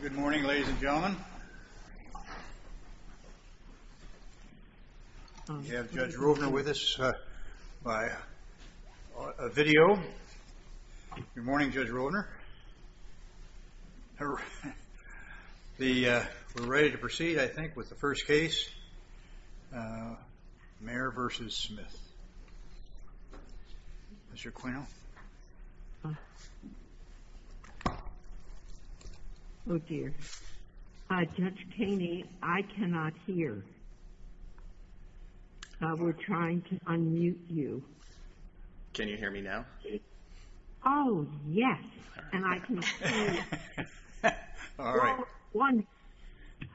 Good morning ladies and gentlemen. We have Judge Rovner with us by a video. Good morning Judge Rovner. We're ready to proceed I think with the first Oh dear. Judge Kaney, I cannot hear. We're trying to unmute you. Judge Kaney Can you hear me now? Judy Smith Oh yes, and I can hear you. Judge Kaney All right.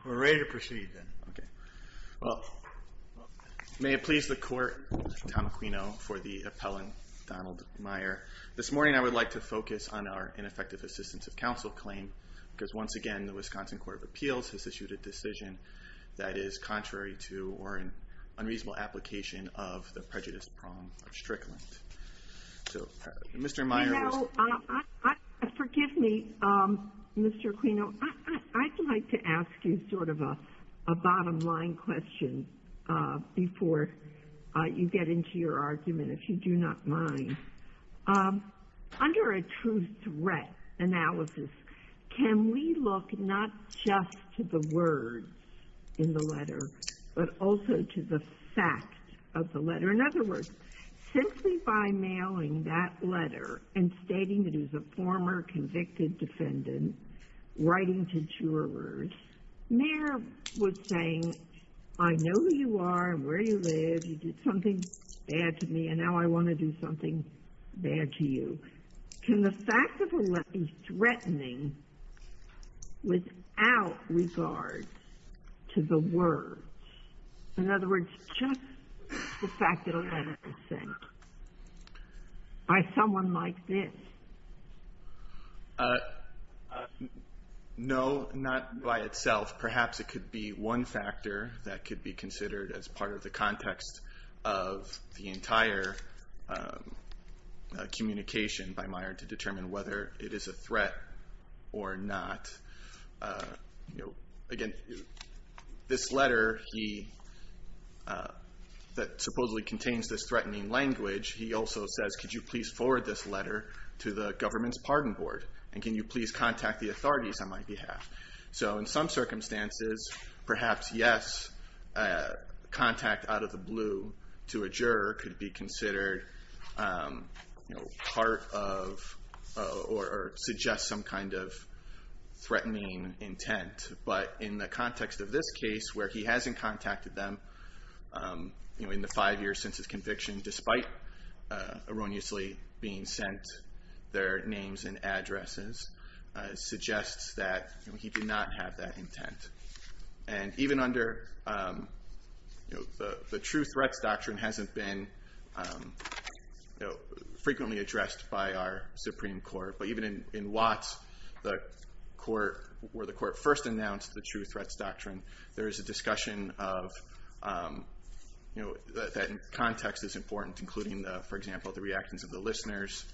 We're ready to proceed then. Okay. Well, may it please the court, Tom Aquino for the appellant Donald Maier. This morning I would like to focus on our ineffective assistance of counsel claim because once again the Wisconsin Court of Appeals has issued a decision that is contrary to or an unreasonable application of the prejudice prong of Strickland. So Mr. Maier Judy Smith No, forgive me Mr. Aquino. I'd like to ask you sort of a bottom line question before you get into your argument if you do not mind. Under a true threat analysis, can we look not just to the words in the letter but also to the fact of the letter? In other words, simply by mailing that letter and stating that it was a former convicted defendant writing to jurors. Maier was saying, I know who you are and where you live. You did something bad to me and now I want to do something bad to you. Can the fact of a letter be threatening without regard to the words? In other words, just the fact that a letter was sent by someone like this. Aquino No, not by itself. Perhaps it could be one factor that could be considered as part of the context of the entire communication by Maier to determine whether it is a threat or not. Again, this letter that supposedly contains this threatening language, he also says, could you please forward this letter to the government's pardon board? And can you please contact the authorities on my behalf? So in some circumstances, perhaps yes, contact out of the intent. But in the context of this case where he hasn't contacted them in the five years since his conviction, despite erroneously being sent their names and addresses, suggests that he did not have that intent. And even under the true threats doctrine hasn't been frequently addressed by our Supreme Court. But even in Watts, where the court first announced the true threats doctrine, there is a discussion that context is important, including, for example, the reactions of the listeners.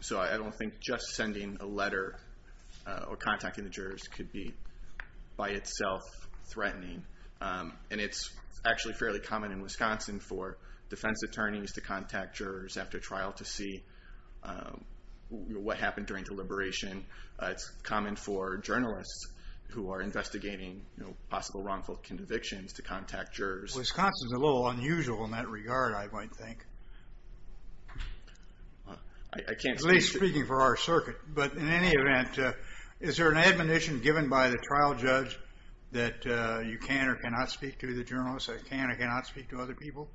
So I don't think just sending a letter or contacting the jurors could be by itself threatening. And it's actually fairly common in Wisconsin for defense attorneys to look at what happened during deliberation. It's common for journalists who are investigating possible wrongful convictions to contact jurors. Wisconsin's a little unusual in that regard, I might think. At least speaking for our circuit. But in any event, is there an admonition given by the trial judge that you can or cannot speak to the journalist, that you can or cannot speak to other people?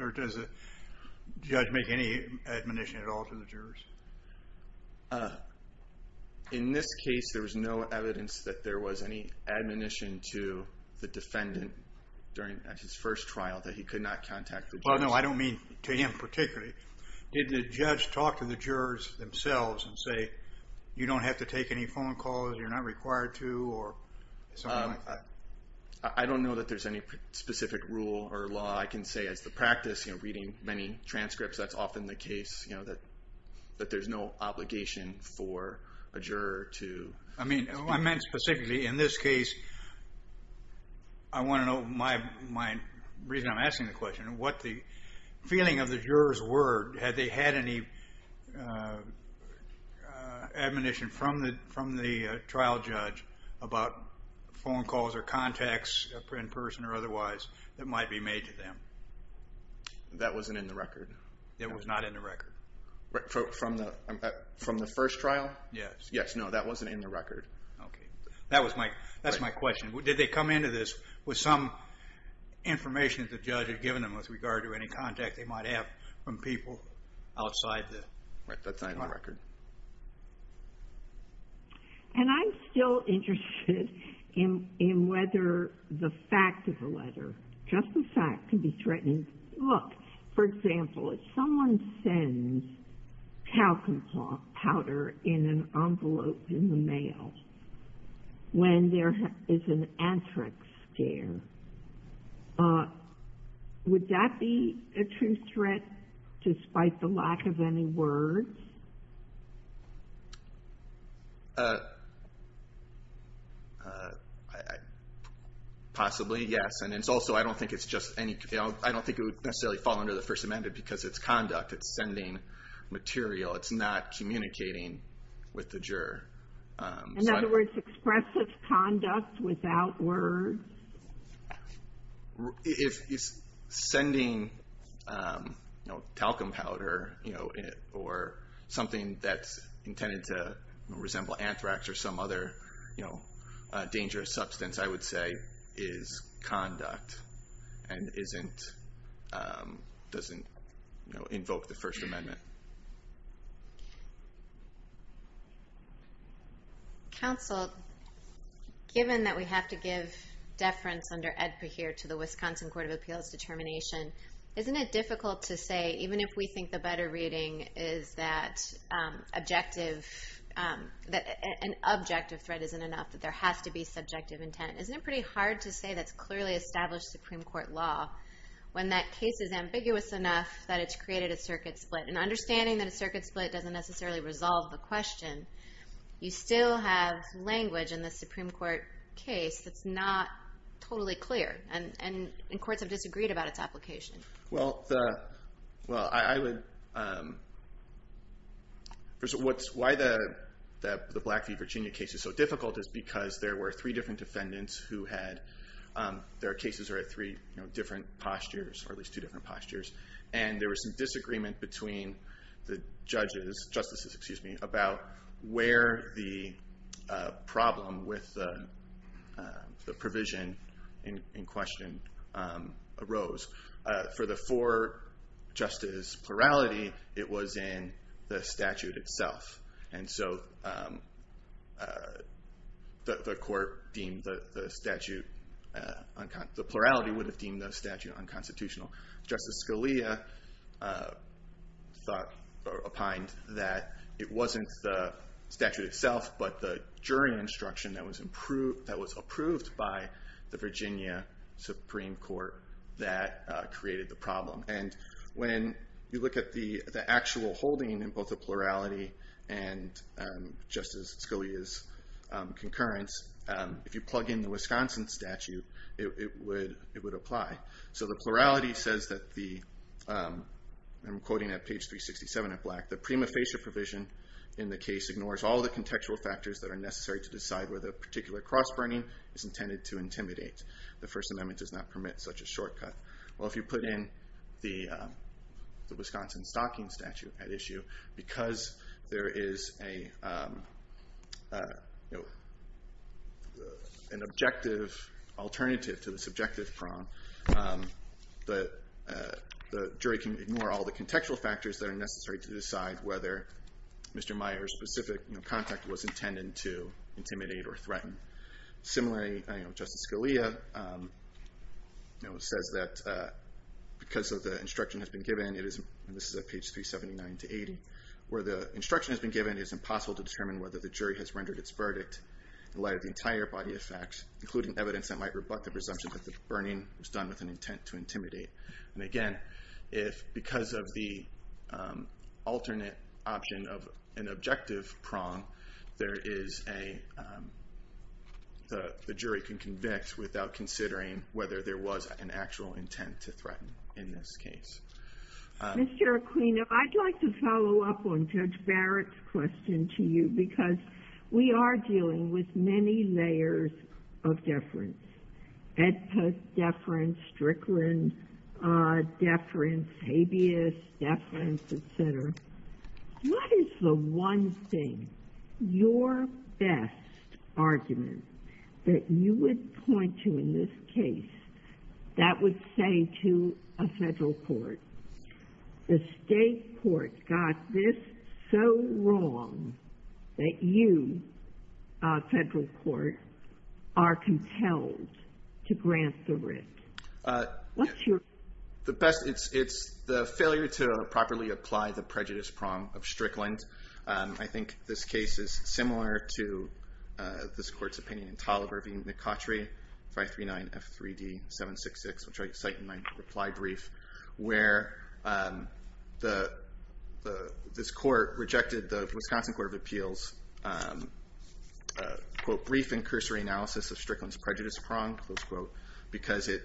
Or does the judge make any admonition at all to the jurors? In this case, there was no evidence that there was any admonition to the defendant during his first trial that he could not contact the jurors. Well, no, I don't mean to him particularly. Did the judge talk to the jurors themselves and say, you don't have to take any phone calls, you're not required to, or something like that? I don't know that there's any specific rule or law. I can say as the practice, reading many transcripts, that's often the case that there's no obligation for a juror to speak. I meant specifically, in this case, I want to know my reason I'm asking the question. What the feeling of the jurors were, had they had any admonition from the trial judge about phone calls or contacts in person or otherwise that might be made to them? That wasn't in the record. It was not in the record. From the first trial? Yes. Yes. No, that wasn't in the record. Okay. That's my question. Did they come into this with some information that the judge had given them with regard to any contact they might have from people outside the court? That's not in the record. And I'm still interested in whether the fact of the letter, just the fact, can be threatening. Look, for example, if someone sends talcum powder in an envelope in the mail when there is an anthrax scare, would that be a true threat despite the lack of any words? Possibly, yes. And it's also, I don't think it's just any, I don't think it would necessarily fall under the First Amendment because it's conduct. It's sending material. It's not a threat. If it's sending talcum powder or something that's intended to resemble anthrax or some other dangerous substance, I would say is conduct and doesn't invoke the First Amendment. Counsel, given that we have to give deference under EDPA here to the Wisconsin Court of Appeals determination, isn't it difficult to say, even if we think the better reading is that an objective threat isn't enough, that there has to be subjective intent? Isn't it pretty hard to say that's clearly established Supreme Court law when that case is ambiguous enough that it's created a circuit split? And understanding that a circuit split doesn't necessarily resolve the question, you still have language in the Supreme Court case that's not totally clear. And courts have disagreed about its application. Well, I would, first of all, why the Blackfeet, Virginia case is so difficult is because there were three different defendants who had, their cases are at three different postures, or at three different postures. And there was some disagreement between the judges, justices, excuse me, about where the problem with the provision in question arose. For the four justice plurality, it was in the statute itself. And so the court deemed the statute, the plurality would have deemed the statute unconstitutional. Justice Scalia thought, opined that it wasn't the statute itself, but the jury instruction that was approved by the Virginia Supreme Court that created the problem. And when you look at the actual holding in both the plurality and Justice Scalia's concurrence, if you plug in the Wisconsin statute, it would apply. So the plurality says that the, I'm quoting at page 367 in black, the prima facie provision in the case ignores all the contextual factors that are necessary to decide whether a particular cross burning is intended to intimidate. The First Amendment does not permit such a shortcut. Well, if you put in the Wisconsin stocking statute at issue, because there is an objective alternative to the subjective prong, the jury can ignore all the contextual factors that are necessary to decide whether Mr. Meyer's specific contact was intended to intimidate or threaten. Similarly, Justice Scalia says that because of the instruction has been given, it is, and this is at page 379 to 80, where the instruction has been given, it is impossible to determine whether the jury has rendered its verdict in light of the entire body of facts, including evidence that might rebut the presumption that the burning was done with an intent to intimidate. And again, if because of the alternate option of an objective prong, there is a, the jury can convict without considering whether there was an actual intent to threaten in this case. Mr. Aquino, I'd like to follow up on Judge Barrett's question to you, because we are dealing with many layers of deference. Ed Post deference, Strickland deference, habeas deference, et cetera. What is the one thing, your best argument, that you would point to in this case that would say to a federal court, the state court got this so wrong that you, a federal court, are compelled to grant the writ? What's your? The best, it's the failure to properly apply the prejudice prong of Strickland. I think this case is similar to this court's opinion in Taliber v. McCautry, 539 F3D 766, which I cite in my reply brief, where the, this court rejected the Wisconsin Court of Appeals, quote, brief and cursory analysis of Strickland's prejudice prong, close quote, because it,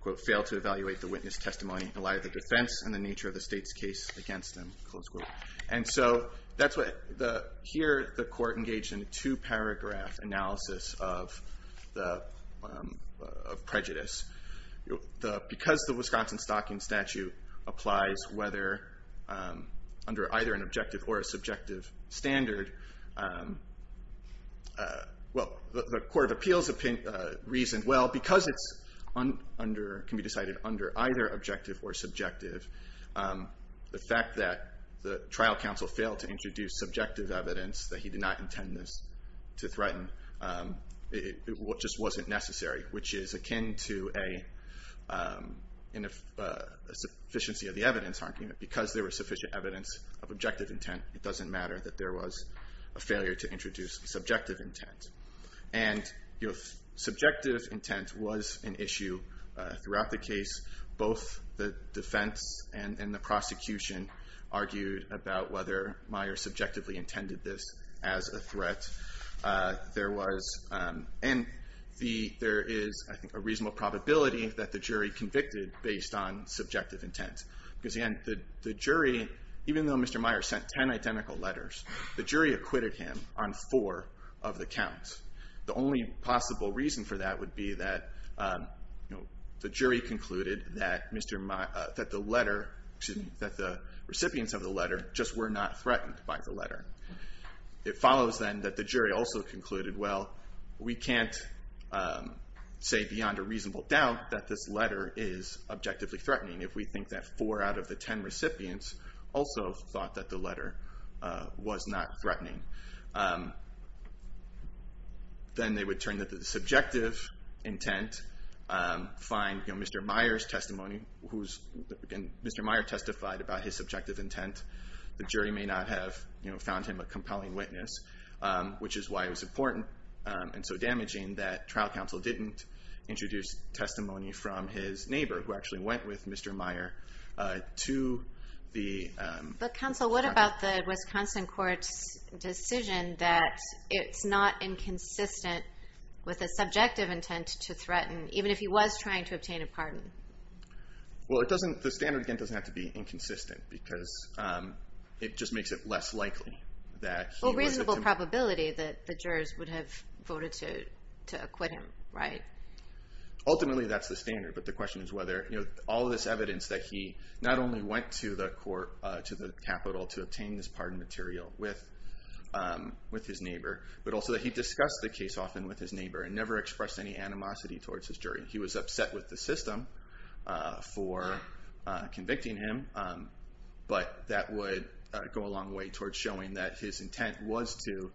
quote, failed to evaluate the witness testimony in light of the defense and the nature of the state's case against them, close quote. And so that's what the, here the court engaged in a two-paragraph analysis of the, of prejudice. Because the Wisconsin Stocking Statute applies whether, under either an objective or a subjective standard, well, the Court of Appeals reasoned, well, because it's under, can be decided under either objective or subjective, the fact that the trial counsel failed to introduce subjective evidence that he did not intend this to threaten, it just wasn't necessary, which is akin to a, a sufficiency of the evidence argument. Because there was sufficient evidence of objective intent, it doesn't matter that there was a failure to introduce subjective intent. And, you know, subjective intent was an issue throughout the case. Both the defense and, and the prosecution argued about whether Meyer subjectively intended this as a threat. There was, and the, there is, I think, a reasonable probability that the jury convicted based on subjective intent. Because again, the, the jury, even though Mr. Meyer sent 10 identical letters, the jury acquitted him on four of the counts. The only possible reason for that would be that, you know, the jury concluded that Mr. Meyer, that the letter, excuse me, that the recipients of the letter just were not threatened by the letter. It follows then that the jury also concluded, well, we can't say beyond a reasonable doubt that this letter is objectively threatening if we think that four out of the 10 recipients also thought that the letter was not threatening. Then they would turn to the subjective intent, find, you know, Mr. Meyer's testimony, who's, again, Mr. Meyer testified about his subjective intent. The jury may not have, you know, found him a compelling witness, which is why it was important and so damaging that trial counsel didn't introduce testimony from his neighbor, who actually went with Mr. Meyer to the, um, But counsel, what about the Wisconsin court's decision that it's not inconsistent with a subjective intent to threaten, even if he was trying to obtain a pardon? Well, it doesn't, the standard, again, doesn't have to be inconsistent because, um, it just makes it less likely that he was a It's a probability that the jurors would have voted to acquit him, right? Ultimately, that's the standard, but the question is whether, you know, all this evidence that he not only went to the court, to the Capitol to obtain this pardon material with, um, with his neighbor, but also that he discussed the case often with his neighbor and never expressed any animosity towards his jury. He was upset with the system, uh, for, uh, convicting him, um, but that would, uh, go a long way towards showing that his intent was to,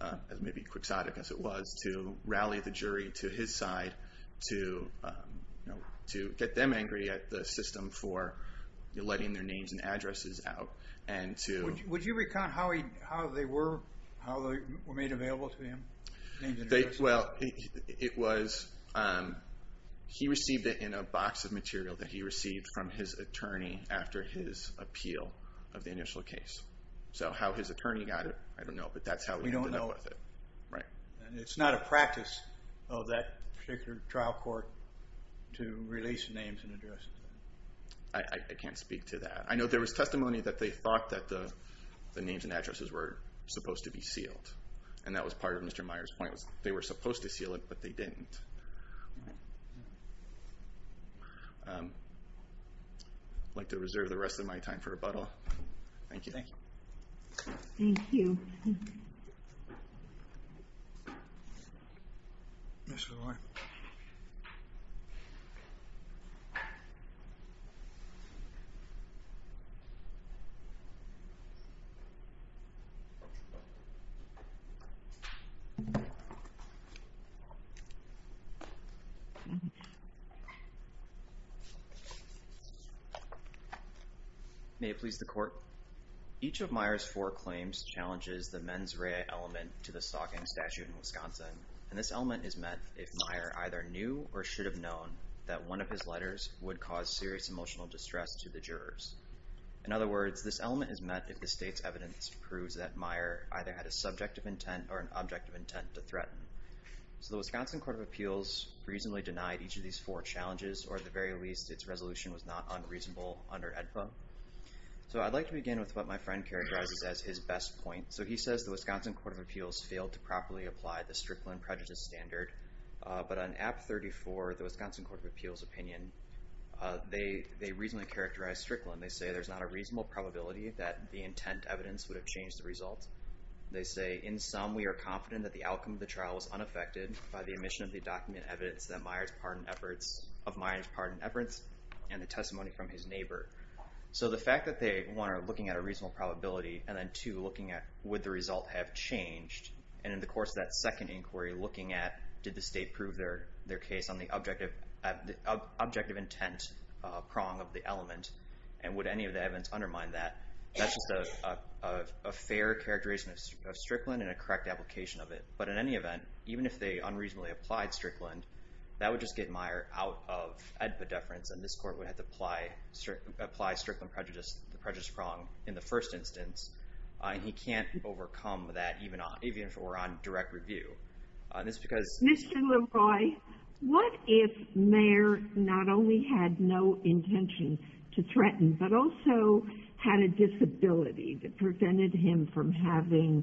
uh, as maybe quixotic as it was, to rally the jury to his side, to, um, you know, to get them angry at the system for letting their names and addresses out and to... Would you recount how he, how they were, how they were made available to him? Well, it was, um, he received it in a box of material that he received from his attorney after his appeal of the initial case. So how his attorney got it, I don't know, but that's how we ended up with it. We don't know, and it's not a practice of that particular trial court to release names and addresses. I, I can't speak to that. I know there was testimony that they thought that the, the names and addresses were supposed to be sealed, and that was part of Mr. Meyer's point was they were supposed to seal it, but they didn't. I'd like to reserve the rest of my time for rebuttal. Thank you. Thank you. Thank you. Yes, Your Honor. May it please the Court? Each of Meyer's four claims challenges the mens rea element to the stalking statute in Wisconsin, and this element is met if Meyer either knew or should have known that one of his letters would cause serious emotional distress to the jurors. In other words, this element is met if the state's evidence proves that Meyer either had a subject of intent or an object of intent to threaten. So the Wisconsin Court of Appeals reasonably denied each of these four challenges, or at the very least, its resolution was not unreasonable under AEDPA. So I'd like to begin with what my friend characterizes as his best point. So he says the Wisconsin Court of Appeals failed to properly apply the Strickland Prejudice Standard, but on App 34, the Wisconsin Court of Appeals opinion, they, they reasonably characterize Strickland. They say there's not a reasonable probability that the intent evidence would have changed the result. They say, in sum, we are confident that the outcome of the trial was unaffected by the omission of the document evidence that Meyer's pardoned efforts, of Meyer's pardoned efforts, and the testimony from his neighbor. So the fact that they, one, are looking at a reasonable probability, and then, two, looking at would the result have changed, and in the course of that second inquiry, looking at did the state prove their, their case on the objective, the objective intent prong of the element, and would any of the evidence undermine that, that's just a, a, a fair characterization of Strickland and a correct application of it. But in any event, even if they unreasonably applied Strickland, that would just get Meyer out of AEDPA deference, and this Court would have to apply, apply Strickland prejudice, the prejudice prong in the first instance, and he can't overcome that even on, even if it were on direct review. And it's because... Mr. LeRoy, what if Meyer not only had no intention to threaten, but also had a disability that prevented him from having,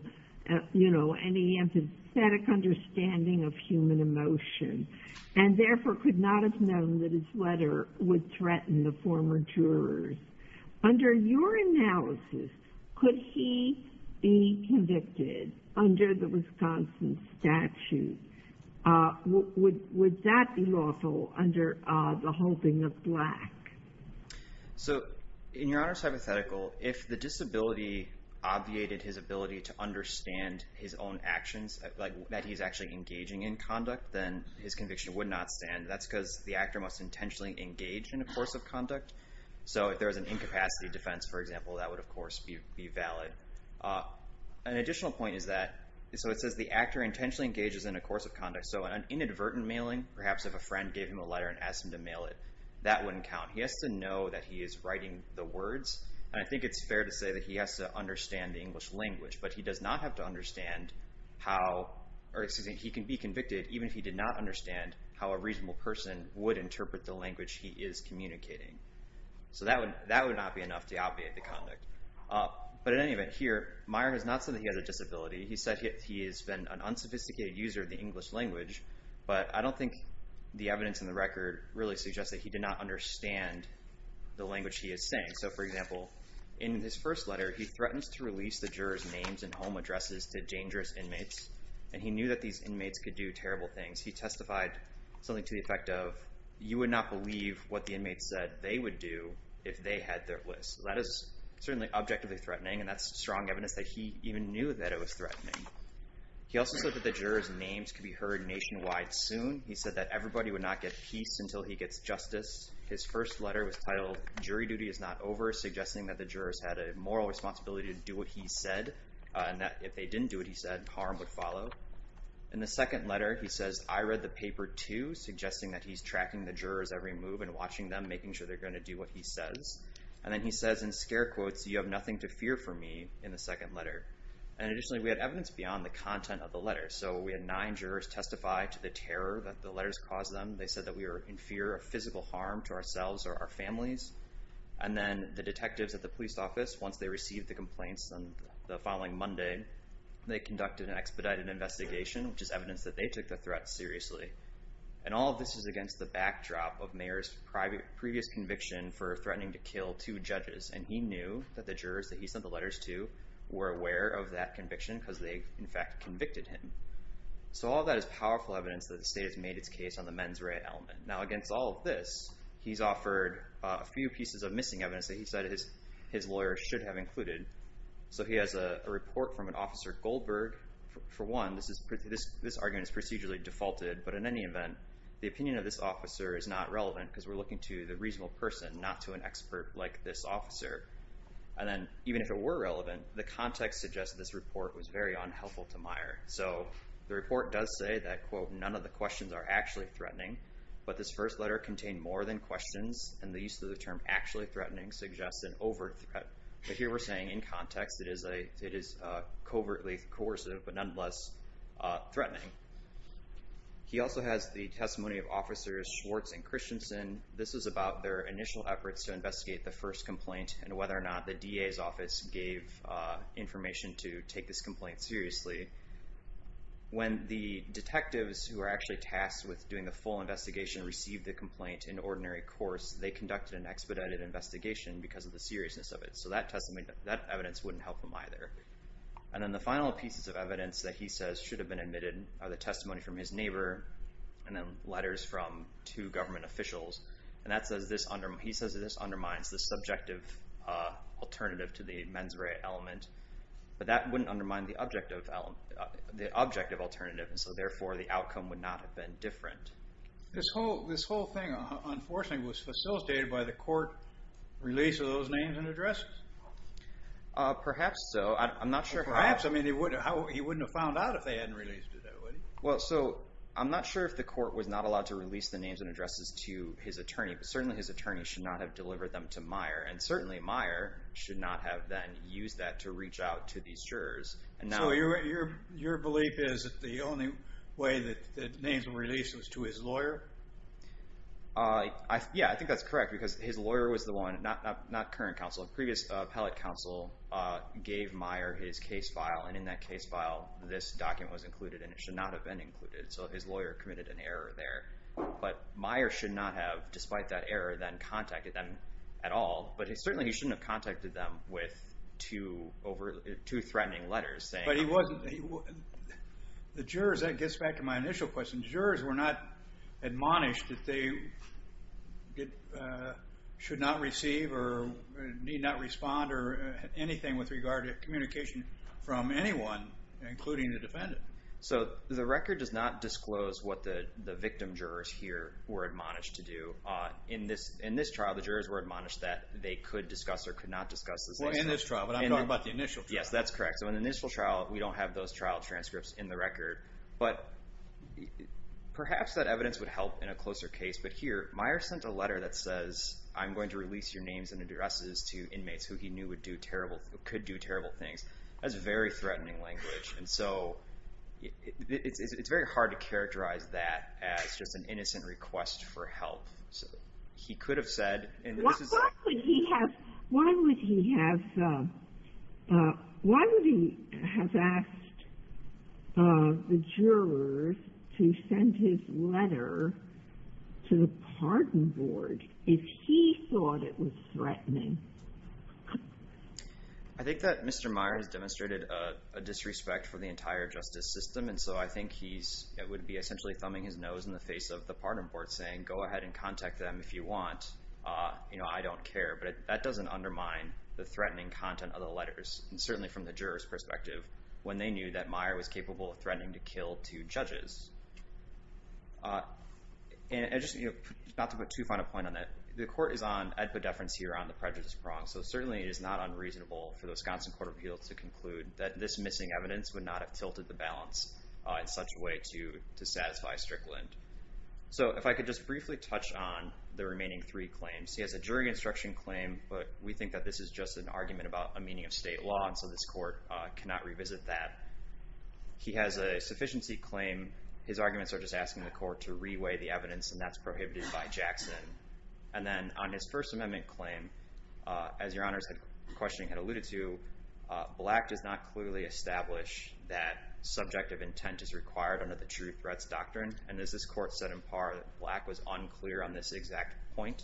you know, any empathetic understanding of human emotion, and therefore could not have known that his letter would threaten the former jurors? Under your analysis, could he be convicted under the Wisconsin statute? Would, would, would that be lawful under the holding of Black? So, in Your Honor's hypothetical, if the disability obviated his ability to understand his own actions, like that he's actually engaging in conduct, then his conviction would not stand. That's because the actor must intentionally engage in a course of conduct. So if there was an incapacity defense, for example, that would of course be valid. An additional point is that, so it says the actor intentionally engages in a course of conduct, so an inadvertent mailing, perhaps if a friend gave him a letter and asked him to mail it, that wouldn't count. He has to know that he is writing the words, and I think it's fair to say that he has to understand the English language, but he does not have to understand how, or excuse me, he can be convicted even if he did not understand how a reasonable person would interpret the language he is communicating. So that would, that would not be enough to obviate the conduct. But in any event, here, Meyer has not said that he has a disability. He said he has been an unsophisticated user of the English language, but I don't think the evidence in the record really suggests that he did not understand the language he is saying. So, for example, in his first letter, he threatens to release the jurors' names and home addresses to dangerous inmates, and he knew that these inmates could do terrible things. He testified something to the effect of, you would not believe what the inmates said they would do if they had their lists. That is certainly objectively threatening, and that's strong evidence that he even knew that it was threatening. He also said that the jurors' names could be heard nationwide soon. He said that everybody would not get peace until he gets justice. His first letter was titled, Jury Duty Is Not Over, suggesting that the jurors had a moral responsibility to do what he said, and that if they didn't do what he said, harm would follow. In the second letter, he says, I read the paper, too, suggesting that he's tracking the jurors' every move and watching them, making sure they're going to do what he says. And then he says in scare quotes, you have nothing to fear for me, in the second letter. And additionally, we had evidence beyond the content of the letter. So we had nine jurors testify to the terror that the letters caused them. They said that we were in fear of physical harm to ourselves or our families. And then the detectives at the police office, once they received the complaints on the following Monday, they conducted an expedited investigation, which is evidence that they took the threat seriously. And all of this is against the backdrop of Mayer's previous conviction for threatening to kill two judges. And he knew that the jurors that he sent the letters to were aware of that conviction because they, in fact, convicted him. So all of that is powerful evidence that the state has made its case on the mens rea element. Now, against all of this, he's offered a few pieces of missing evidence that he said his lawyers should have included. So he has a report from an officer, Goldberg. For one, this argument is procedurally defaulted. But in any event, the opinion of this officer is not relevant because we're looking to the reasonable person, not to an expert like this officer. And then even if it were relevant, the context suggests this report was very unhelpful to Mayer. So the report does say that, quote, none of the questions are actually threatening. But this first letter contained more than questions. And the use of the term actually threatening suggests an overt threat. But here we're saying in context it is covertly coercive but nonetheless threatening. He also has the testimony of Officers Schwartz and Christensen. This is about their initial efforts to investigate the first complaint and whether or not the DA's office gave information to take this complaint seriously. When the detectives who were actually tasked with doing the full investigation received the complaint in ordinary course, they conducted an expedited investigation because of the seriousness of it. So that evidence wouldn't help them either. And then the final pieces of evidence that he says should have been admitted are the testimony from his neighbor and then letters from two government officials. And he says that this undermines the subjective alternative to the mens rea element. But that wouldn't undermine the objective alternative, and so therefore the outcome would not have been different. This whole thing, unfortunately, was facilitated by the court release of those names and addresses? Perhaps so. I'm not sure how. Perhaps. I mean, he wouldn't have found out if they hadn't released it that way. Well, so I'm not sure if the court was not allowed to release the names and addresses to his attorney, but certainly his attorney should not have delivered them to Meyer. And certainly Meyer should not have then used that to reach out to these jurors. So your belief is that the only way that the names were released was to his lawyer? Yeah, I think that's correct because his lawyer was the one, not current counsel, previous appellate counsel gave Meyer his case file, and in that case file this document was included and it should not have been included. So his lawyer committed an error there. But Meyer should not have, despite that error, then contacted them at all. But certainly he shouldn't have contacted them with two threatening letters. But the jurors, that gets back to my initial question, the jurors were not admonished that they should not receive or need not respond or anything with regard to communication from anyone, including the defendant. So the record does not disclose what the victim jurors here were admonished to do. In this trial, the jurors were admonished that they could discuss or could not discuss this. Well, in this trial, but I'm talking about the initial trial. Yes, that's correct. So in the initial trial, we don't have those trial transcripts in the record. But perhaps that evidence would help in a closer case. But here, Meyer sent a letter that says, I'm going to release your names and addresses to inmates who he knew could do terrible things. That's very threatening language. And so it's very hard to characterize that as just an innocent request for help. So he could have said. Why would he have asked the jurors to send his letter to the pardon board if he thought it was threatening? I think that Mr. Meyer has demonstrated a disrespect for the entire justice system. And so I think he's it would be essentially thumbing his nose in the face of the pardon board saying, go ahead and contact them if you want. You know, I don't care. But that doesn't undermine the threatening content of the letters. And certainly from the jurors perspective, when they knew that Meyer was capable of threatening to kill two judges. And just not to put too fine a point on that. The court is on epideference here on the prejudice prong. So certainly it is not unreasonable for the Wisconsin Court of Appeals to conclude that this missing evidence would not have tilted the balance in such a way to satisfy Strickland. So if I could just briefly touch on the remaining three claims. He has a jury instruction claim. But we think that this is just an argument about a meaning of state law. And so this court cannot revisit that. He has a sufficiency claim. His arguments are just asking the court to reweigh the evidence. And that's prohibited by Jackson. And then on his First Amendment claim, as Your Honor's questioning had alluded to, Black does not clearly establish that subjective intent is required under the True Threats Doctrine. And as this court said in par, Black was unclear on this exact point.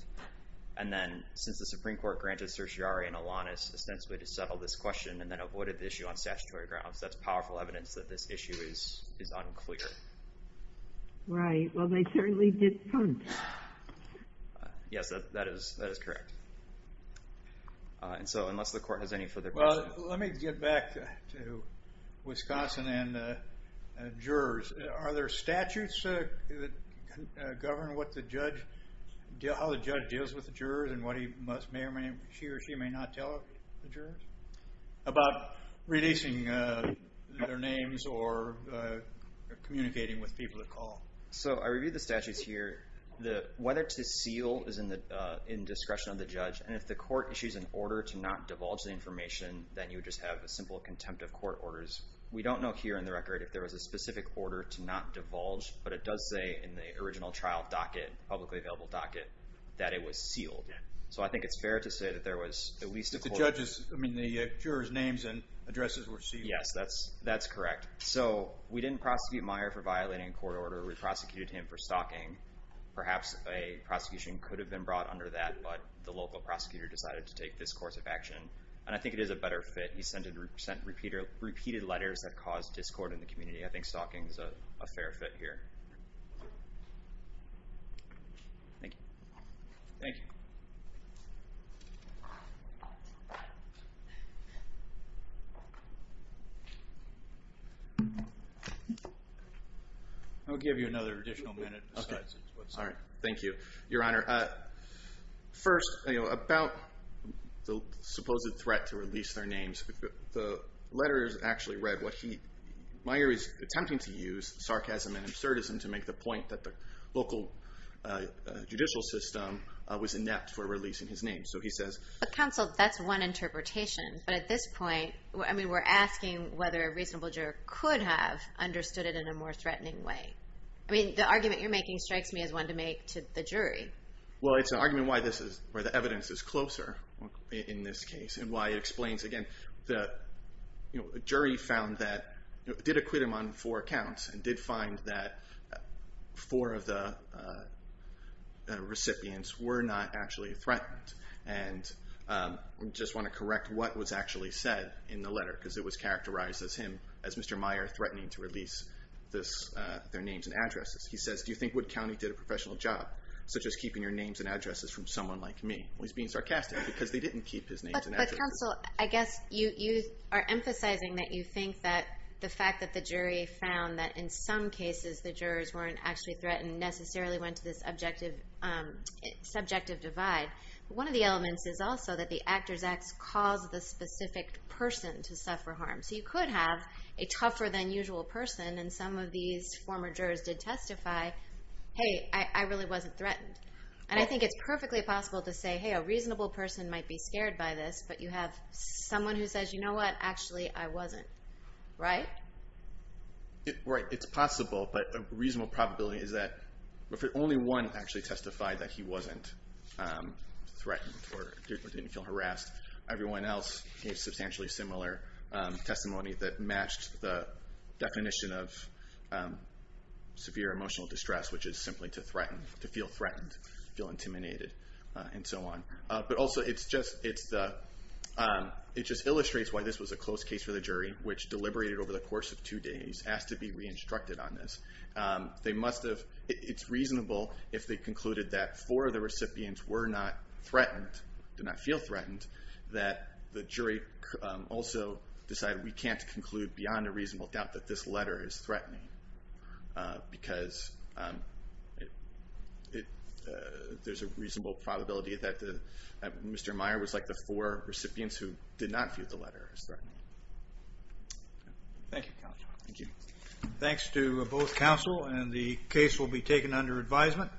And then since the Supreme Court granted Certiorari and Alanis ostensibly to settle this question and then avoided the issue on statutory grounds, that's powerful evidence that this issue is unclear. Right. Well, they certainly did punt. Yes, that is correct. And so unless the court has any further questions. Well, let me get back to Wisconsin and jurors. Are there statutes that govern how the judge deals with the jurors and what he or she may or may not tell the jurors? About releasing their names or communicating with people to call. So I reviewed the statutes here. Whether to seal is in discretion of the judge. And if the court issues an order to not divulge the information, then you would just have a simple contempt of court orders. We don't know here in the record if there was a specific order to not divulge, but it does say in the original trial docket, publicly available docket, that it was sealed. So I think it's fair to say that there was at least a court order. But the jurors' names and addresses were sealed. Yes, that's correct. So we didn't prosecute Meyer for violating a court order. We prosecuted him for stalking. Perhaps a prosecution could have been brought under that, but the local prosecutor decided to take this course of action. And I think it is a better fit. He sent repeated letters that caused discord in the community. I think stalking is a fair fit here. Thank you. Thank you. I'll give you another additional minute. All right. Thank you, Your Honor. First, about the supposed threat to release their names, the letters actually read what he – Meyer is attempting to use sarcasm and absurdism to make the point that the local judicial system was inept for releasing his name. So he says – But, counsel, that's one interpretation. But at this point, I mean, we're asking whether a reasonable juror could have understood it in a more threatening way. I mean, the argument you're making strikes me as one to make to the jury. Well, it's an argument why the evidence is closer in this case and why it explains, again, the jury found that – four of the recipients were not actually threatened. And I just want to correct what was actually said in the letter because it was characterized as him, as Mr. Meyer, threatening to release their names and addresses. He says, do you think Wood County did a professional job, such as keeping your names and addresses from someone like me? Well, he's being sarcastic because they didn't keep his names and addresses. But, counsel, I guess you are emphasizing that you think that the fact that the jury found that in some cases the jurors weren't actually threatened necessarily went to this subjective divide. One of the elements is also that the Actors Act caused the specific person to suffer harm. So you could have a tougher-than-usual person, and some of these former jurors did testify, hey, I really wasn't threatened. And I think it's perfectly possible to say, hey, a reasonable person might be scared by this, but you have someone who says, you know what? Actually, I wasn't, right? Right. It's possible, but a reasonable probability is that if only one actually testified that he wasn't threatened or didn't feel harassed, everyone else gave substantially similar testimony that matched the definition of severe emotional distress, which is simply to feel threatened, feel intimidated, and so on. But also it just illustrates why this was a close case for the jury, which deliberated over the course of two days, asked to be re-instructed on this. It's reasonable if they concluded that four of the recipients were not threatened, did not feel threatened, that the jury also decided we can't conclude beyond a reasonable doubt that this letter is threatening because there's a reasonable probability that Mr. Meyer was like the four recipients who did not view the letter as threatening. Thank you, counsel. Thank you. Thanks to both counsel, and the case will be taken under advisement.